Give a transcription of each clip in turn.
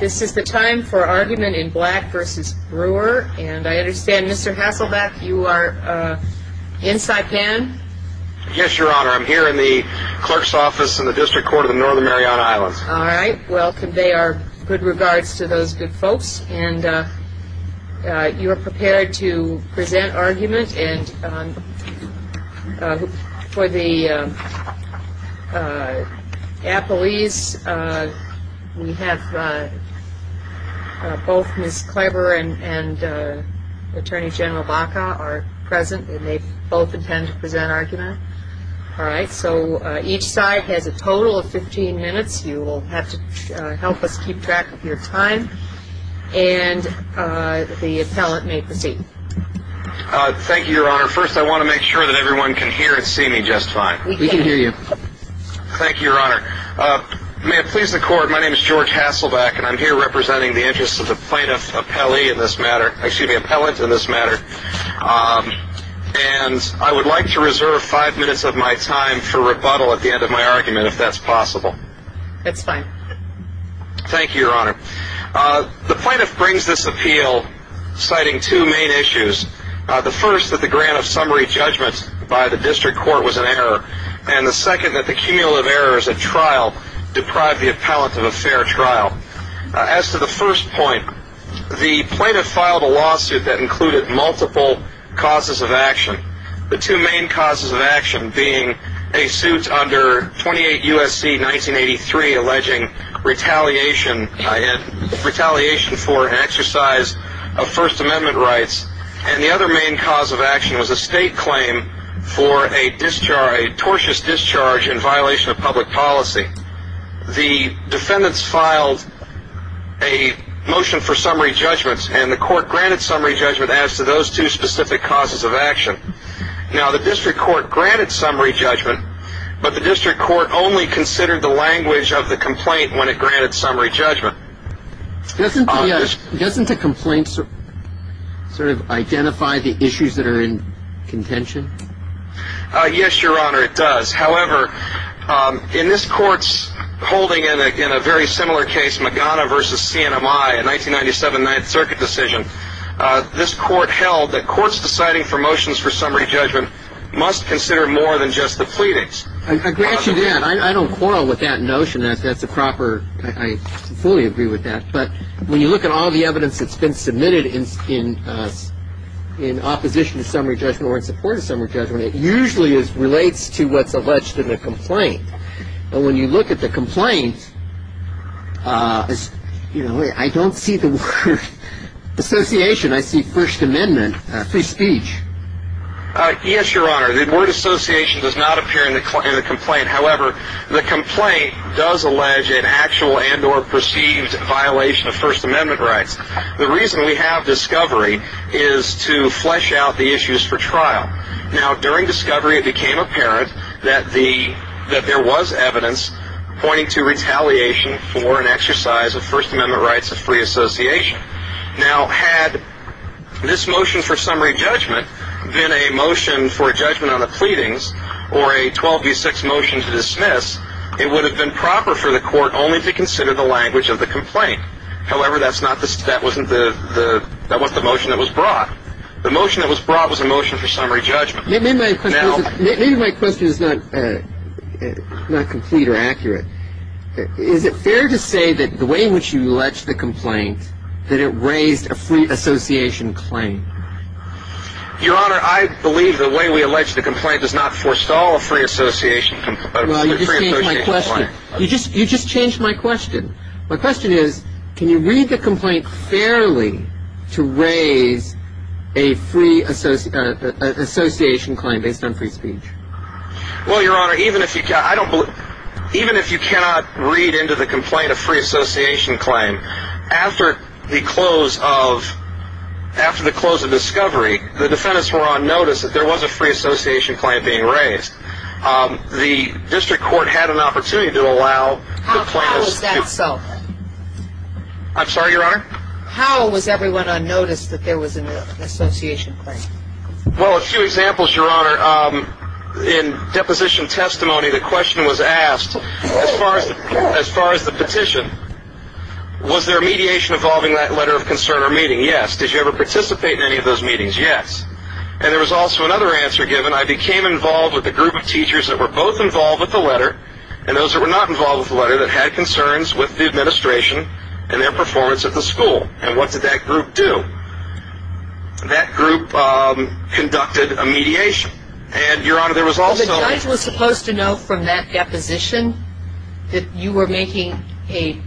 This is the time for argument in Black v. Brewer, and I understand Mr. Hasselbeck, you are in Saipan? Yes, Your Honor. I'm here in the clerk's office in the District Court of the Northern Mariana Islands. All right. Well, convey our good regards to those good folks, and you are prepared to present argument. And for the appellees, we have both Ms. Kleber and Attorney General Baca are present, and they both intend to present argument. All right. So each side has a total of 15 minutes. You will have to help us keep track of your time, and the appellant may proceed. Thank you, Your Honor. First, I want to make sure that everyone can hear and see me just fine. We can hear you. Thank you, Your Honor. May it please the Court, my name is George Hasselbeck, and I'm here representing the interests of the plaintiff appellee in this matter, excuse me, appellant in this matter, and I would like to reserve five minutes of my time for rebuttal at the end of my argument, if that's possible. That's fine. Thank you, Your Honor. The plaintiff brings this appeal citing two main issues. The first, that the grant of summary judgment by the District Court was an error, and the second, that the cumulative errors at trial deprived the appellant of a fair trial. As to the first point, the plaintiff filed a lawsuit that included multiple causes of action, the two main causes of action being a suit under 28 U.S.C. 1983 alleging retaliation for an exercise of First Amendment rights, and the other main cause of action was a state claim for a tortuous discharge in violation of public policy. The defendants filed a motion for summary judgment, and the Court granted summary judgment as to those two specific causes of action. Now, the District Court granted summary judgment, but the District Court only considered the language of the complaint when it granted summary judgment. Doesn't the complaint sort of identify the issues that are in contention? Yes, Your Honor, it does. However, in this Court's holding in a very similar case, Magana v. CNMI, a 1997 Ninth Circuit decision, this Court held that courts deciding for motions for summary judgment must consider more than just the pleadings. I grant you that. I don't quarrel with that notion. That's a proper – I fully agree with that. But when you look at all the evidence that's been submitted in opposition to summary judgment or in support of summary judgment, it usually relates to what's alleged in the complaint. But when you look at the complaint, you know, I don't see the word association. I see First Amendment, free speech. Yes, Your Honor. The word association does not appear in the complaint. However, the complaint does allege an actual and or perceived violation of First Amendment rights. The reason we have discovery is to flesh out the issues for trial. Now, during discovery, it became apparent that there was evidence pointing to retaliation for an exercise of First Amendment rights of free association. Now, had this motion for summary judgment been a motion for judgment on the pleadings or a 12 v. 6 motion to dismiss, it would have been proper for the Court only to consider the language of the complaint. However, that's not the – that wasn't the – that wasn't the motion that was brought. The motion that was brought was a motion for summary judgment. Maybe my question is not complete or accurate. Is it fair to say that the way in which you alleged the complaint, that it raised a free association claim? Your Honor, I believe the way we alleged the complaint does not forestall a free association – a free association claim. Well, you just changed my question. You just – you just changed my question. My question is, can you read the complaint fairly to raise a free association claim based on free speech? Well, Your Honor, even if you – I don't believe – even if you cannot read into the complaint a free association claim, after the close of – after the close of discovery, the defendants were on notice that there was a free association claim being raised. The district court had an opportunity to allow the plaintiffs to – How was that so? I'm sorry, Your Honor? How was everyone on notice that there was an association claim? Well, a few examples, Your Honor. In deposition testimony, the question was asked, as far as – as far as the petition, was there mediation involving that letter of concern or meeting? Yes. Did you ever participate in any of those meetings? Yes. And there was also another answer given. I became involved with a group of teachers that were both involved with the letter and those that were not involved with the letter that had concerns with the administration and their performance at the school. And what did that group do? That group conducted a mediation. And, Your Honor, there was also – Well, the judge was supposed to know from that deposition that you were making a –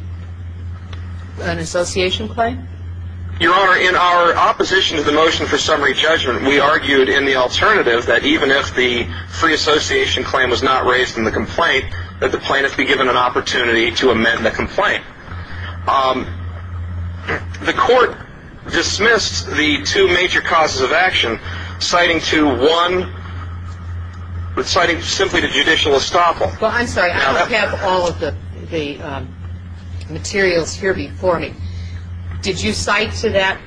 an association claim? Your Honor, in our opposition to the motion for summary judgment, we argued in the alternative that even if the free association claim was not raised in the complaint, that the plaintiff be given an opportunity to amend the complaint. The court dismissed the two major causes of action, citing to one – citing simply to judicial estoppel. Well, I'm sorry. I don't have all of the materials here before me. Did you cite to that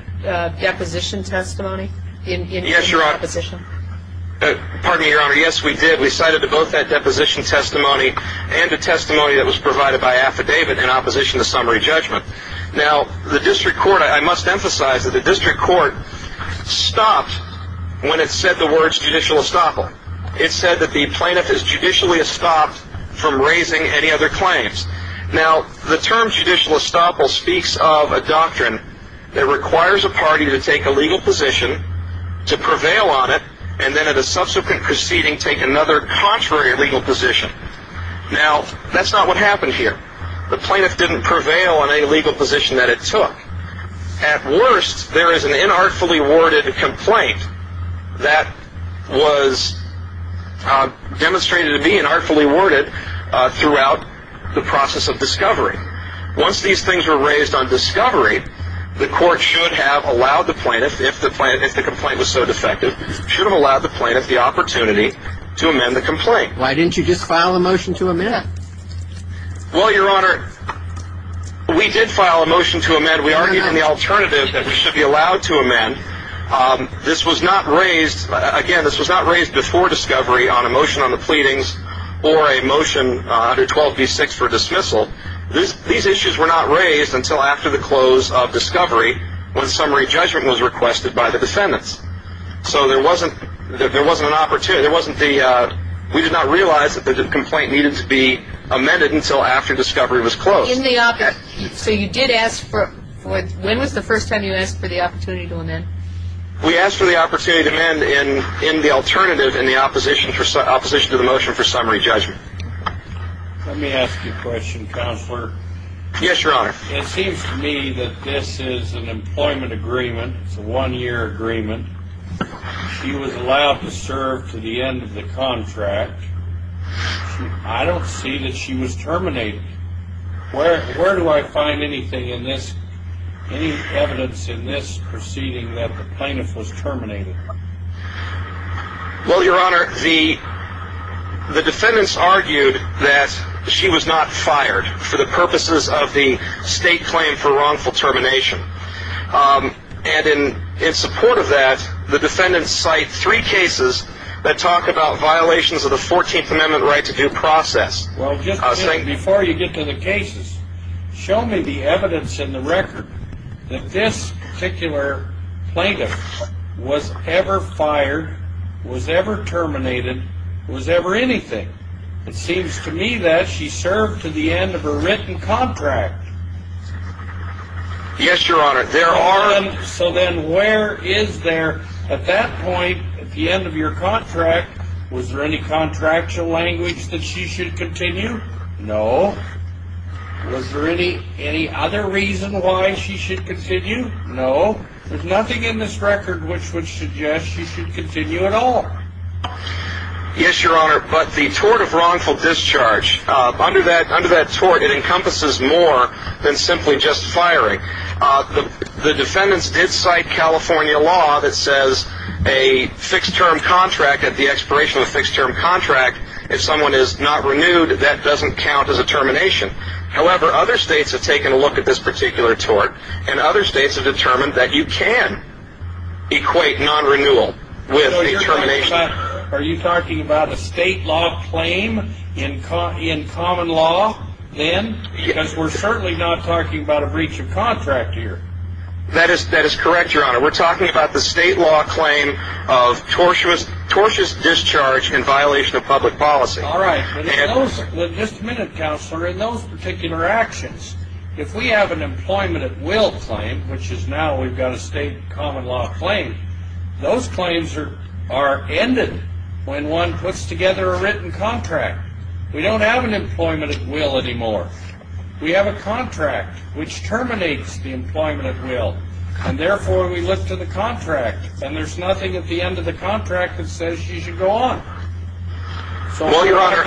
deposition testimony in your deposition? Yes, Your Honor. Pardon me, Your Honor. Yes, we did. We cited to both that deposition testimony and the testimony that was provided by affidavit in opposition to summary judgment. Now, the district court – I must emphasize that the district court stopped when it said the words judicial estoppel. It said that the plaintiff is judicially estopped from raising any other claims. Now, the term judicial estoppel speaks of a doctrine that requires a party to take a legal position to prevail on it and then at a subsequent proceeding take another contrary legal position. Now, that's not what happened here. The plaintiff didn't prevail on any legal position that it took. At worst, there is an inartfully worded complaint that was demonstrated to be inartfully worded throughout the process of discovery. Once these things were raised on discovery, the court should have allowed the plaintiff – if the complaint was so defective – should have allowed the plaintiff the opportunity to amend the complaint. Why didn't you just file a motion to amend it? Well, Your Honor, we did file a motion to amend. We argued in the alternative that we should be allowed to amend. This was not raised – again, this was not raised before discovery on a motion on the pleadings or a motion under 12b-6 for dismissal. These issues were not raised until after the close of discovery when summary judgment was requested by the defendants. So there wasn't an opportunity – we did not realize that the complaint needed to be amended until after discovery was closed. So you did ask for – when was the first time you asked for the opportunity to amend? We asked for the opportunity to amend in the alternative in the opposition to the motion for summary judgment. Let me ask you a question, Counselor. Yes, Your Honor. It seems to me that this is an employment agreement. It's a one-year agreement. She was allowed to serve to the end of the contract. I don't see that she was terminated. Where do I find anything in this – any evidence in this proceeding that the plaintiff was terminated? Well, Your Honor, the defendants argued that she was not fired for the purposes of the state claim for wrongful termination. And in support of that, the defendants cite three cases that talk about violations of the 14th Amendment right to due process. Well, just before you get to the cases, show me the evidence in the record that this particular plaintiff was ever fired, was ever terminated, was ever anything. It seems to me that she served to the end of her written contract. Yes, Your Honor, there are – So then where is there, at that point, at the end of your contract, was there any contractual language that she should continue? No. Was there any other reason why she should continue? No. There's nothing in this record which would suggest she should continue at all. Yes, Your Honor, but the tort of wrongful discharge, under that tort, it encompasses more than simply just firing. The defendants did cite California law that says a fixed-term contract, at the expiration of a fixed-term contract, if someone is not renewed, that doesn't count as a termination. However, other states have taken a look at this particular tort, and other states have determined that you can equate non-renewal with a termination. Are you talking about a state law claim in common law, then? Because we're certainly not talking about a breach of contract here. That is correct, Your Honor. We're talking about the state law claim of tortious discharge in violation of public policy. Just a minute, Counselor. In those particular actions, if we have an employment at will claim, which is now we've got a state common law claim, those claims are ended when one puts together a written contract. We don't have an employment at will anymore. We have a contract which terminates the employment at will, and therefore we look to the contract, and there's nothing at the end of the contract that says she should go on. Well, Your Honor,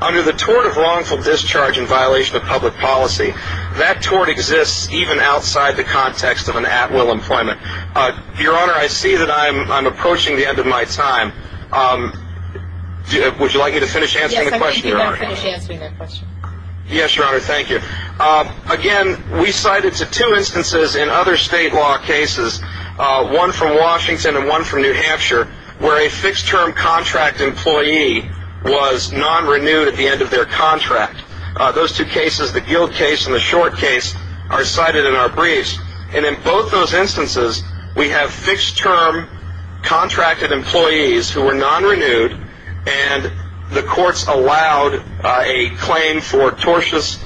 under the tort of wrongful discharge in violation of public policy, that tort exists even outside the context of an at-will employment. Your Honor, I see that I'm approaching the end of my time. Would you like me to finish answering the question, Your Honor? Yes, I'd like you to finish answering that question. Yes, Your Honor, thank you. Again, we cited to two instances in other state law cases, one from Washington and one from New Hampshire, where a fixed-term contract employee was non-renewed at the end of their contract. Those two cases, the Guild case and the Short case, are cited in our briefs. And in both those instances, we have fixed-term contracted employees who were non-renewed, and the courts allowed a claim for tortious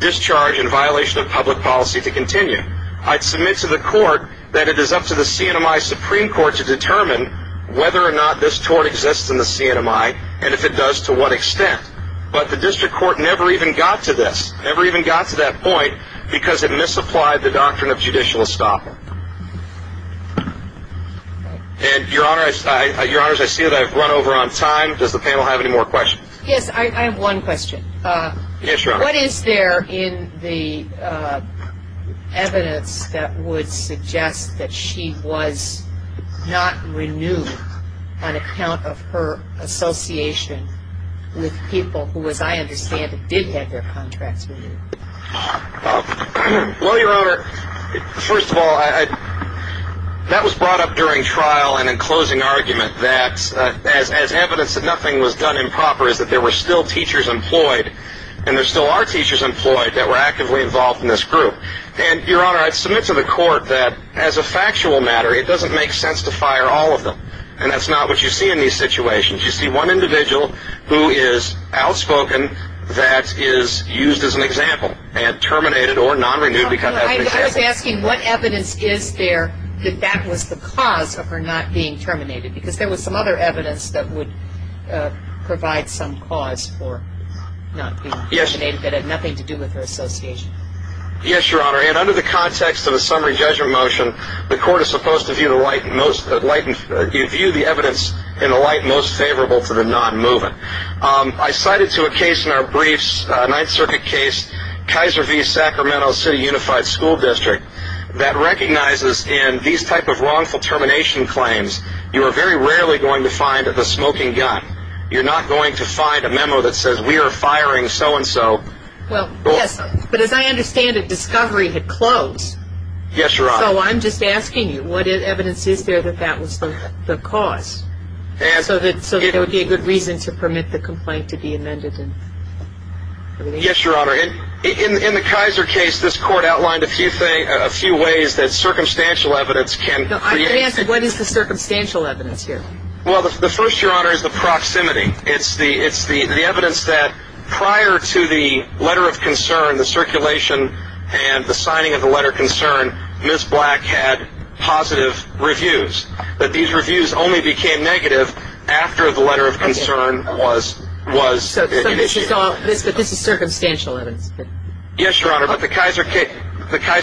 discharge in violation of public policy to continue. I'd submit to the court that it is up to the CNMI Supreme Court to determine whether or not this tort exists in the CNMI, and if it does, to what extent. But the district court never even got to this, never even got to that point, because it misapplied the doctrine of judicial estoppel. And, Your Honor, I see that I've run over on time. Does the panel have any more questions? Yes, I have one question. Yes, Your Honor. What is there in the evidence that would suggest that she was not renewed on account of her association with people who, as I understand it, did have their contracts renewed? Well, Your Honor, first of all, that was brought up during trial in a closing argument that, as evidence that nothing was done improper, is that there were still teachers employed, and there still are teachers employed, that were actively involved in this group. And, Your Honor, I'd submit to the court that, as a factual matter, it doesn't make sense to fire all of them. And that's not what you see in these situations. You see one individual who is outspoken that is used as an example, and terminated or non-renewed because that's an example. I was asking what evidence is there that that was the cause of her not being terminated, because there was some other evidence that would provide some cause for not being terminated that had nothing to do with her association. Yes, Your Honor, and under the context of a summary judgment motion, the court is supposed to view the evidence in the light most favorable to the non-moving. I cited to a case in our briefs, a Ninth Circuit case, Kaiser v. Sacramento City Unified School District, that recognizes in these type of wrongful termination claims, you are very rarely going to find the smoking gun. You're not going to find a memo that says, we are firing so-and-so. Well, yes, but as I understand it, discovery had closed. Yes, Your Honor. So I'm just asking you, what evidence is there that that was the cause, so that there would be a good reason to permit the complaint to be amended? Yes, Your Honor. In the Kaiser case, this court outlined a few ways that circumstantial evidence can create... I'm going to ask, what is the circumstantial evidence here? Well, the first, Your Honor, is the proximity. It's the evidence that prior to the letter of concern, the circulation, and the signing of the letter of concern, Ms. Black had positive reviews, but these reviews only became negative after the letter of concern was initiated. So this is circumstantial evidence? Yes, Your Honor, but the Kaiser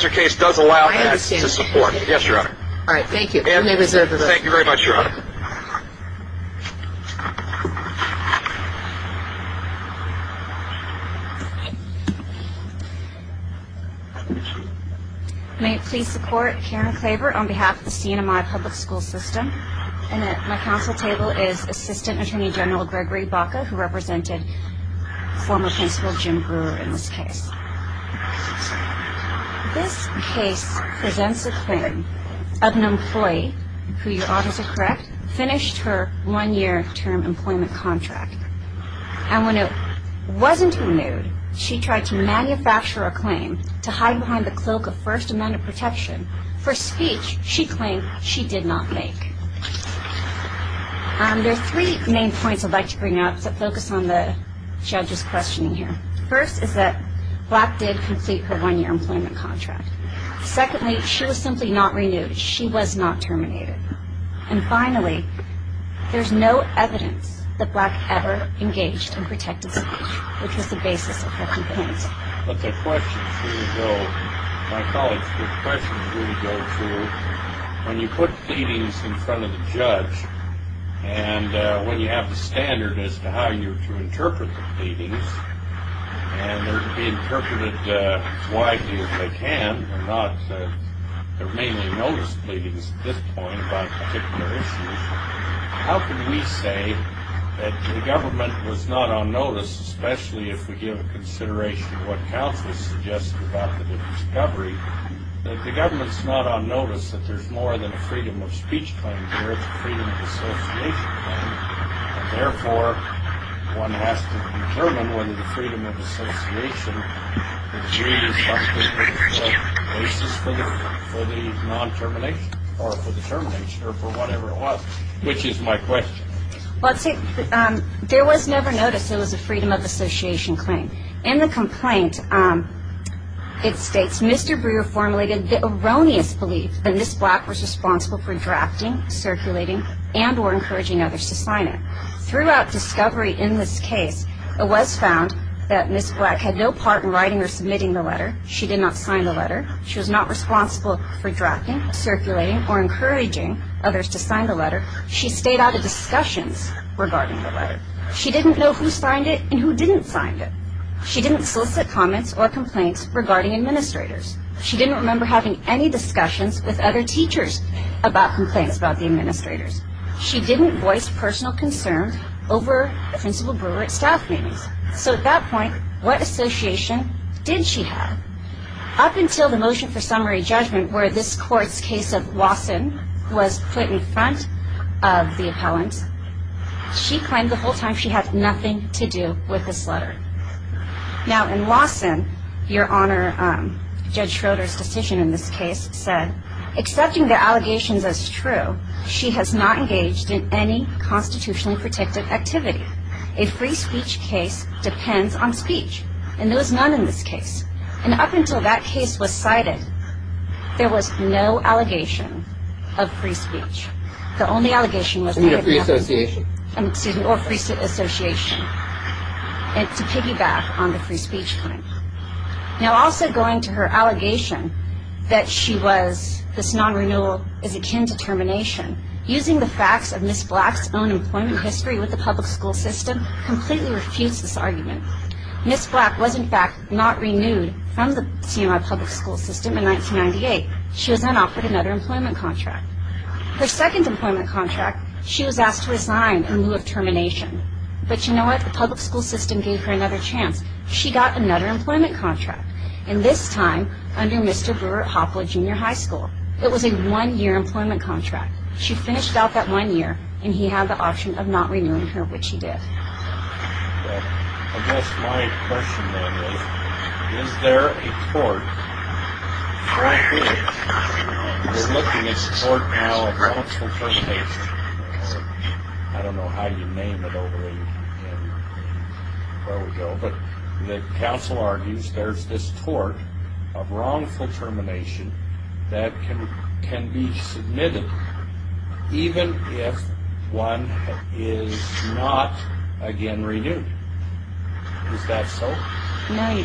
case does allow that to support. I understand. Yes, Your Honor. All right, thank you. You may reserve the rest. Thank you very much, Your Honor. May it please the Court, Karen Klaver on behalf of the CNMI Public School System, and at my counsel table is Assistant Attorney General Gregory Baca, who represented former Principal Jim Brewer in this case. This case presents a claim of an employee who, Your Honors are correct, finished her one-year term employment contract. And when it wasn't renewed, she tried to manufacture a claim to hide behind the cloak of First Amendment protection for a speech she claimed she did not make. There are three main points I'd like to bring up that focus on the judge's questioning here. First is that Black did complete her one-year employment contract. Secondly, she was simply not renewed. She was not terminated. And finally, there's no evidence that Black ever engaged in protected speech, which is the basis of her complaint. But the questions really go, my colleagues, the questions really go to when you put pleadings in front of the judge and when you have the standard as to how you're to interpret the pleadings, and they're to be interpreted as widely as they can. They're mainly notice pleadings at this point about particular issues. How can we say that the government was not on notice, especially if we give consideration to what counsel suggested about the discovery, that the government's not on notice, that there's more than a freedom of speech claim here. There's a freedom of association claim. And therefore, one has to determine whether the freedom of association is really something that's the basis for the non-termination or for the termination or for whatever it was, which is my question. Well, see, there was never notice. It was a freedom of association claim. In the complaint, it states, Mr. Brewer formulated the erroneous belief that Ms. Black was responsible for drafting, circulating, and or encouraging others to sign it. Throughout discovery in this case, it was found that Ms. Black had no part in writing or submitting the letter. She did not sign the letter. She was not responsible for drafting, circulating, or encouraging others to sign the letter. She stayed out of discussions regarding the letter. She didn't know who signed it and who didn't sign it. She didn't solicit comments or complaints regarding administrators. She didn't remember having any discussions with other teachers about complaints about the administrators. She didn't voice personal concerns over Principal Brewer at staff meetings. So at that point, what association did she have? Up until the motion for summary judgment where this court's case of Lawson was put in front of the appellant, she claimed the whole time she had nothing to do with this letter. Now, in Lawson, Your Honor, Judge Schroeder's decision in this case said, accepting the allegations as true, she has not engaged in any constitutionally protected activity. A free speech case depends on speech. And there was none in this case. And up until that case was cited, there was no allegation of free speech. The only allegation was that it was free association. And to piggyback on the free speech claim. Now, also going to her allegation that she was, this non-renewal is akin to termination, using the facts of Ms. Black's own employment history with the public school system completely refutes this argument. Ms. Black was, in fact, not renewed from the CMI public school system in 1998. She was then offered another employment contract. Her second employment contract, she was asked to resign in lieu of termination. But you know what? The public school system gave her another chance. She got another employment contract. And this time, under Mr. Brewer at Hopla Junior High School. It was a one-year employment contract. She finished out that one year, and he had the option of not renewing her, which he did. I guess my question then is, is there a court? Well, there is. We're looking at a tort now of wrongful termination. I don't know how you name it over there. There we go. But the council argues there's this tort of wrongful termination that can be submitted, even if one is not again renewed. Is that so? No.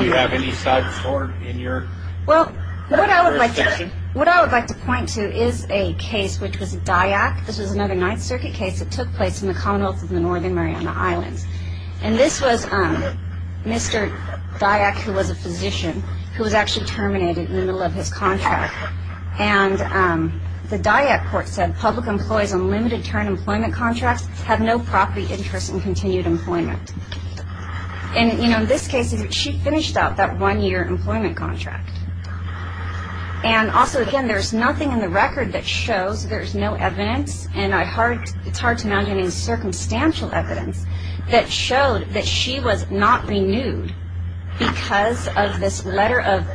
Do you have any side tort in your section? Well, what I would like to point to is a case, which was Dyack. This was another Ninth Circuit case that took place in the commonwealth of the Northern Mariana Islands. And this was Mr. Dyack, who was a physician, who was actually terminated in the middle of his contract. And the Dyack court said public employees on limited-term employment contracts have no property interest in continued employment. And, you know, in this case, she finished out that one-year employment contract. And also, again, there's nothing in the record that shows there's no evidence, and it's hard to imagine any circumstantial evidence that showed that she was not renewed because of this letter of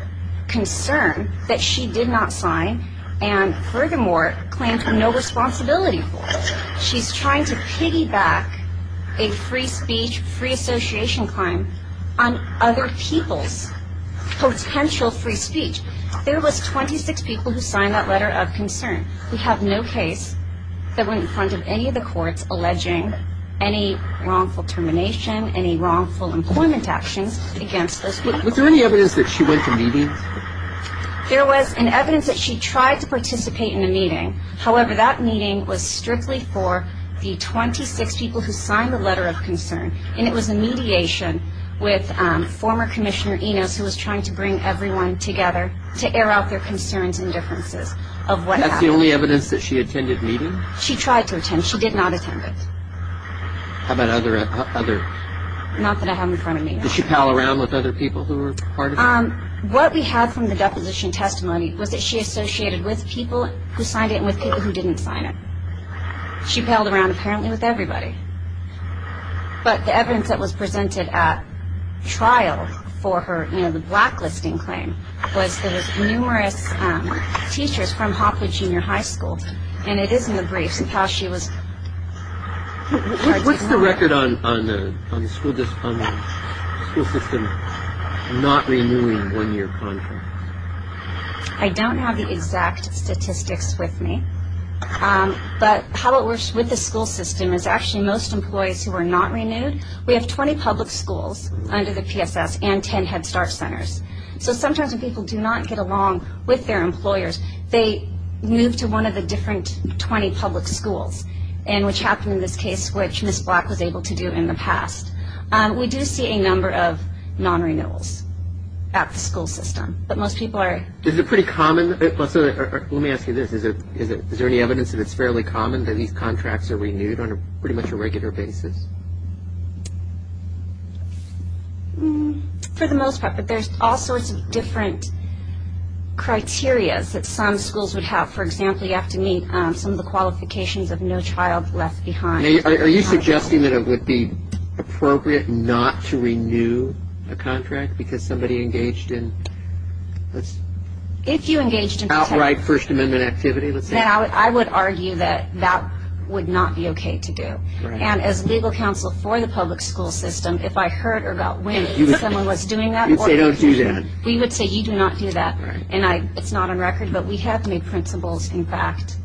concern that she did not sign and, furthermore, claimed no responsibility for. She's trying to piggyback a free speech, free association claim on other people's potential free speech. There was 26 people who signed that letter of concern. We have no case that went in front of any of the courts alleging any wrongful termination, any wrongful employment actions against those people. Was there any evidence that she went to meetings? There was an evidence that she tried to participate in a meeting. However, that meeting was strictly for the 26 people who signed the letter of concern, and it was a mediation with former Commissioner Enos, who was trying to bring everyone together to air out their concerns and differences of what happened. That's the only evidence that she attended a meeting? She tried to attend. She did not attend it. How about other? Not that I have in front of me. Did she pal around with other people who were part of it? What we have from the deposition testimony was that she associated with people who signed it and with people who didn't sign it. She paled around, apparently, with everybody. But the evidence that was presented at trial for her, you know, the blacklisting claim, was that there were numerous teachers from Hopwood Junior High School, and it is in the briefs of how she was... What's the record on the school system not renewing one-year contracts? I don't have the exact statistics with me. But how it works with the school system is actually most employees who are not renewed, we have 20 public schools under the PSS and 10 Head Start centers. So sometimes when people do not get along with their employers, they move to one of the different 20 public schools, which happened in this case, which Ms. Black was able to do in the past. We do see a number of non-renewals at the school system. But most people are... Is it pretty common? Let me ask you this. Is there any evidence that it's fairly common that these contracts are renewed on pretty much a regular basis? For the most part, but there's all sorts of different criteria that some schools would have. For example, you have to meet some of the qualifications of no child left behind. Are you suggesting that it would be appropriate not to renew a contract because somebody engaged in... If you engaged in... Outright First Amendment activity, let's say. I would argue that that would not be okay to do. And as legal counsel for the public school system, if I heard or got wind that someone was doing that... You would say, don't do that. We would say, you do not do that. And it's not on record, but we have made principles, in fact,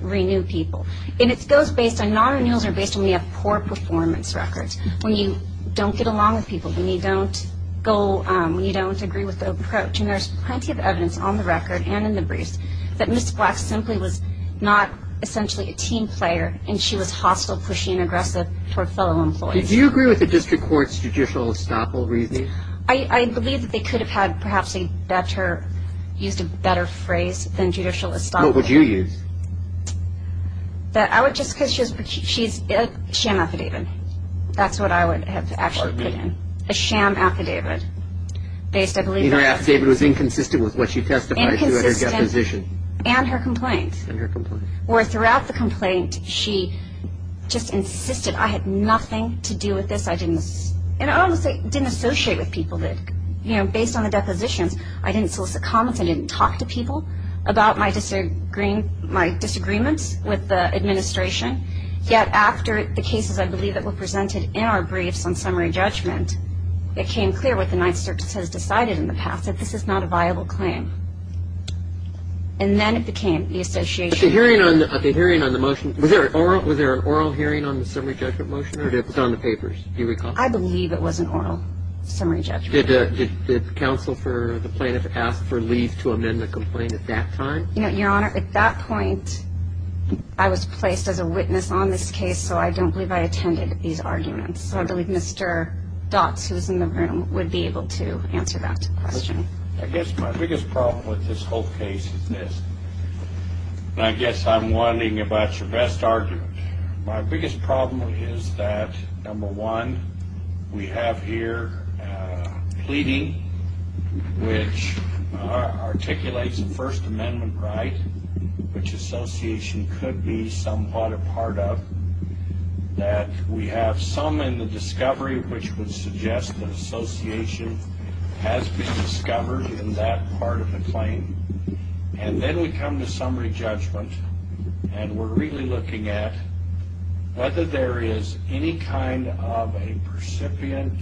renew people. And it goes based on non-renewals or based on when you have poor performance records, when you don't get along with people, when you don't agree with the approach. And there's plenty of evidence on the record and in the briefs that Ms. Black simply was not essentially a team player and she was hostile, pushy, and aggressive toward fellow employees. Do you agree with the district court's judicial estoppel reasoning? I believe that they could have had perhaps used a better phrase than judicial estoppel. What would you use? I would just, because she's a sham affidavit. That's what I would have actually put in, a sham affidavit based, I believe... Meaning her affidavit was inconsistent with what she testified to at her deposition. Inconsistent and her complaint. And her complaint. Where throughout the complaint she just insisted I had nothing to do with this. I didn't associate with people. Based on the depositions, I didn't solicit comments. I didn't talk to people about my disagreements with the administration. Yet after the cases, I believe, that were presented in our briefs on summary judgment, it came clear what the Ninth Circus has decided in the past, that this is not a viable claim. And then it became the association. The hearing on the motion, was there an oral hearing on the summary judgment motion? It was on the papers. Do you recall? I believe it was an oral summary judgment. Did counsel for the plaintiff ask for leave to amend the complaint at that time? Your Honor, at that point, I was placed as a witness on this case, so I don't believe I attended these arguments. So I believe Mr. Dotz, who is in the room, would be able to answer that question. I guess my biggest problem with this whole case is this. I guess I'm wondering about your best argument. My biggest problem is that, number one, we have here pleading, which articulates the First Amendment right, which association could be somewhat a part of, that we have some in the discovery which would suggest that association has been discovered in that part of the claim. And then we come to summary judgment, and we're really looking at whether there is any kind of a percipient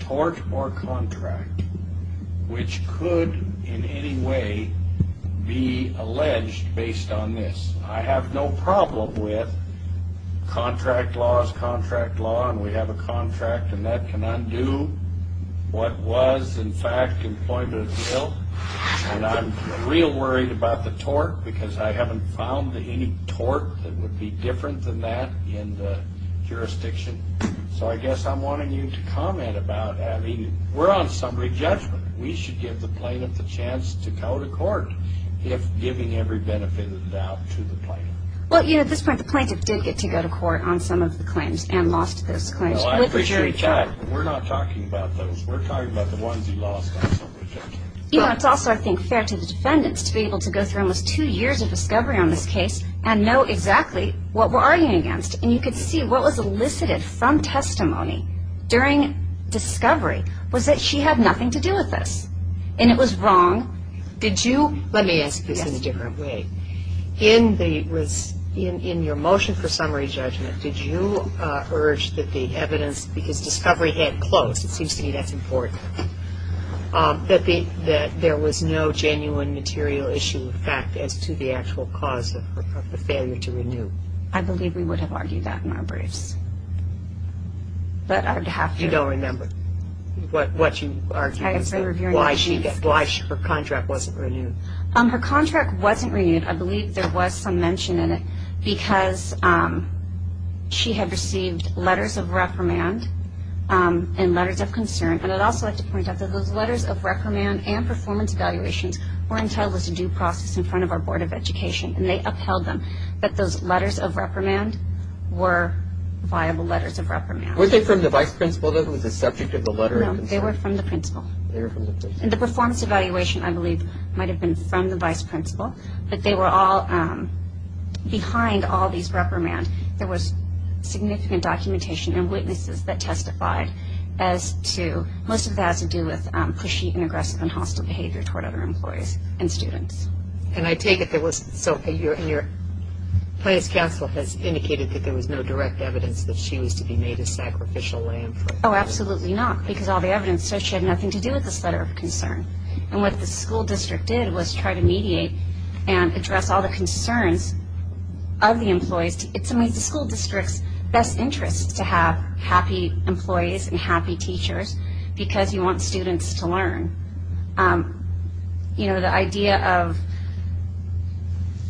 tort or contract which could in any way be alleged based on this. I have no problem with contract laws, contract law, and we have a contract, and that can undo what was, in fact, an employment appeal. And I'm real worried about the tort, because I haven't found any tort that would be different than that in the jurisdiction. So I guess I'm wanting you to comment about, I mean, we're on summary judgment. We should give the plaintiff the chance to go to court if giving every benefit of the doubt to the plaintiff. Well, you know, at this point, the plaintiff did get to go to court on some of the claims and lost those claims with the jury trial. Well, I appreciate that. We're not talking about those. We're talking about the ones he lost on summary judgment. You know, it's also, I think, fair to the defendants to be able to go through almost two years of discovery on this case and know exactly what we're arguing against. And you could see what was elicited from testimony during discovery was that she had nothing to do with this, and it was wrong. Let me ask this in a different way. In your motion for summary judgment, did you urge that the evidence, because discovery had closed, it seems to me that's important, that there was no genuine material issue of fact as to the actual cause of the failure to renew? I believe we would have argued that in our briefs. You don't remember what you argued, why her contract wasn't renewed? Her contract wasn't renewed. I believe there was some mention in it because she had received letters of reprimand and letters of concern. And I'd also like to point out that those letters of reprimand and performance evaluations were entitled as a due process in front of our Board of Education, and they upheld them, that those letters of reprimand were viable letters of reprimand. Were they from the vice principal that was the subject of the letter of concern? They were from the principal. And the performance evaluation, I believe, might have been from the vice principal, but they were all behind all these reprimand. There was significant documentation and witnesses that testified as to, most of that has to do with pushy and aggressive and hostile behavior toward other employees and students. And I take it there was, so in your, Plaintiff's counsel has indicated that there was no direct evidence that she was to be made a sacrificial lamb? Oh, absolutely not, because all the evidence says she had nothing to do with this letter of concern. And what the school district did was try to mediate and address all the concerns of the employees. It's in the school district's best interest to have happy employees and happy teachers because you want students to learn. You know, the idea of,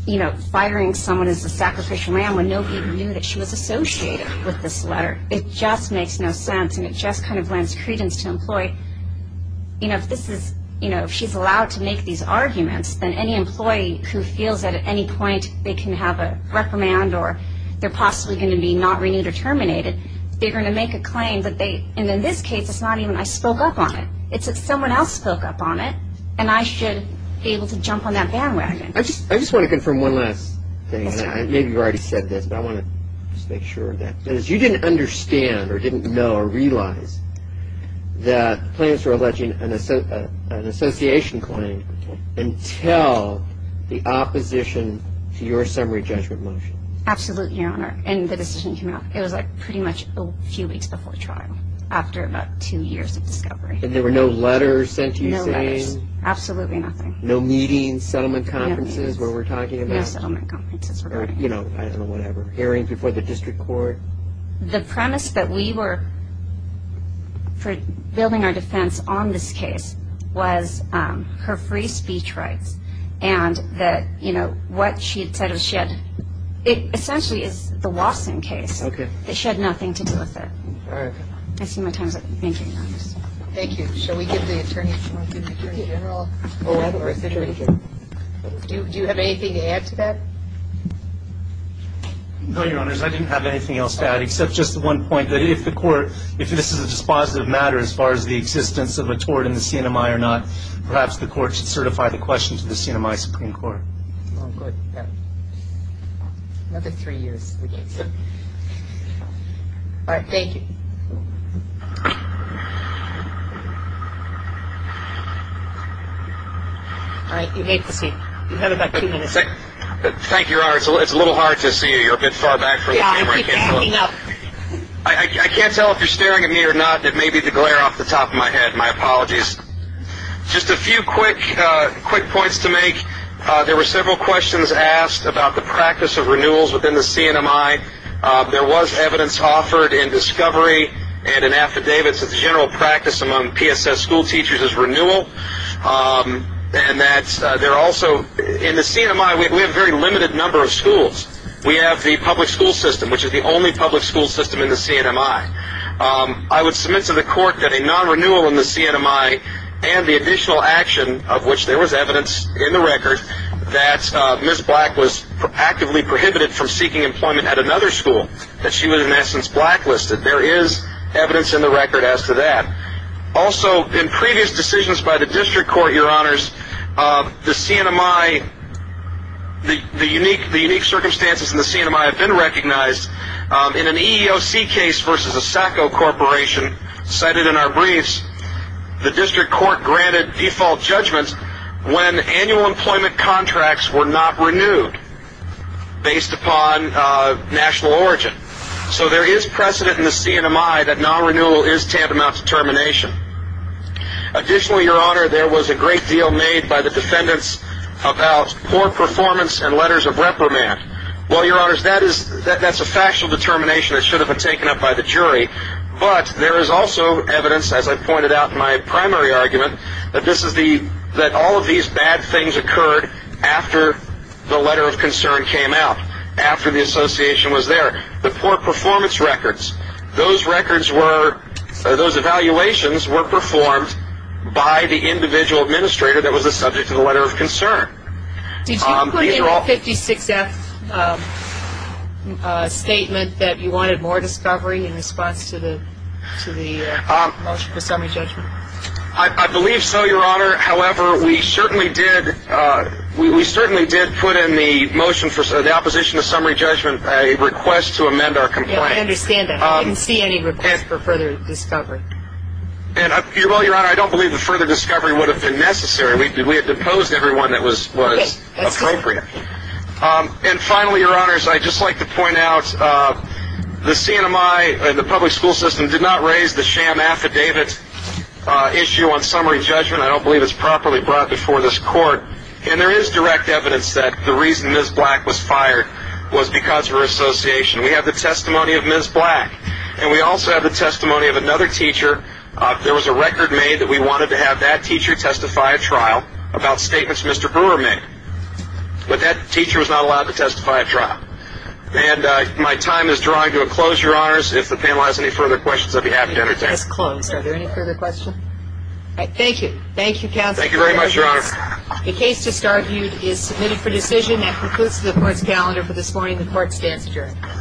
you know, firing someone as a sacrificial lamb when nobody knew that she was associated with this letter, it just makes no sense, and it just kind of lends credence to employee. You know, if this is, you know, if she's allowed to make these arguments, then any employee who feels that at any point they can have a reprimand or they're possibly going to be not renewed or terminated, they're going to make a claim that they, and in this case, it's not even I spoke up on it. It's that someone else spoke up on it, and I should be able to jump on that bandwagon. I just want to confirm one last thing. Maybe you already said this, but I want to just make sure of that. You didn't understand or didn't know or realize that clients were alleging an association claim until the opposition to your summary judgment motion. Absolutely, Your Honor, and the decision came out, it was like pretty much a few weeks before trial after about two years of discovery. And there were no letters sent to you saying? No letters, absolutely nothing. No meetings, settlement conferences where we're talking about? No settlement conferences. Or, you know, I don't know, whatever, hearings before the district court? The premise that we were, for building our defense on this case, was her free speech rights and that, you know, what she had said was she had, it essentially is the Watson case. Okay. That she had nothing to do with it. All right. I see my time's up. Thank you, Your Honor. Thank you. Shall we give the attorney a moment? Attorney General. Oh, I have a question. Attorney General. Do you have anything to add to that? No, Your Honors. I didn't have anything else to add except just the one point that if the court, if this is a dispositive matter as far as the existence of a tort in the CNMI or not, perhaps the court should certify the question to the CNMI Supreme Court. Oh, good. Another three years. All right. Thank you. All right. You may proceed. You have about two minutes. Thank you, Your Honor. It's a little hard to see. You're a bit far back from the camera. Yeah, I keep panning up. I can't tell if you're staring at me or not. It may be the glare off the top of my head. My apologies. Just a few quick points to make. There were several questions asked about the practice of renewals within the CNMI. There was evidence offered in discovery and in affidavits that the general practice among PSS school teachers is renewal, and that there are also in the CNMI we have a very limited number of schools. We have the public school system, which is the only public school system in the CNMI. I would submit to the court that a non-renewal in the CNMI and the additional action of which there was evidence in the record that Ms. Black was actively prohibited from seeking employment at another school, that she was in essence blacklisted. There is evidence in the record as to that. Also, in previous decisions by the district court, Your Honors, the CNMI, the unique circumstances in the CNMI have been recognized. In an EEOC case versus a SACO corporation cited in our briefs, the district court granted default judgments when annual employment contracts were not renewed based upon national origin. So there is precedent in the CNMI that non-renewal is tantamount to termination. Additionally, Your Honor, there was a great deal made by the defendants about poor performance and letters of reprimand. Well, Your Honors, that is a factual determination that should have been taken up by the jury, but there is also evidence, as I pointed out in my primary argument, that all of these bad things occurred after the letter of concern came out, after the association was there. The poor performance records, those records were, those evaluations were performed by the individual administrator that was the subject of the letter of concern. Did you put in your 56F statement that you wanted more discovery in response to the motion for summary judgment? I believe so, Your Honor. However, we certainly did put in the motion for the opposition to summary judgment a request to amend our complaint. I understand that. I didn't see any request for further discovery. Well, Your Honor, I don't believe the further discovery would have been necessary. We had deposed everyone that was appropriate. And finally, Your Honors, I'd just like to point out the CNMI and the public school system did not raise the sham affidavit issue on summary judgment. I don't believe it's properly brought before this court. And there is direct evidence that the reason Ms. Black was fired was because of her association. We have the testimony of Ms. Black, and we also have the testimony of another teacher. There was a record made that we wanted to have that teacher testify at trial about statements Mr. Brewer made. But that teacher was not allowed to testify at trial. And my time is drawing to a close, Your Honors. If the panel has any further questions, I'd be happy to entertain them. The case is closed. Are there any further questions? All right. Thank you. Thank you, Counsel. Thank you very much, Your Honor. The case just argued is submitted for decision and concludes the court's calendar for this morning. The court stands adjourned.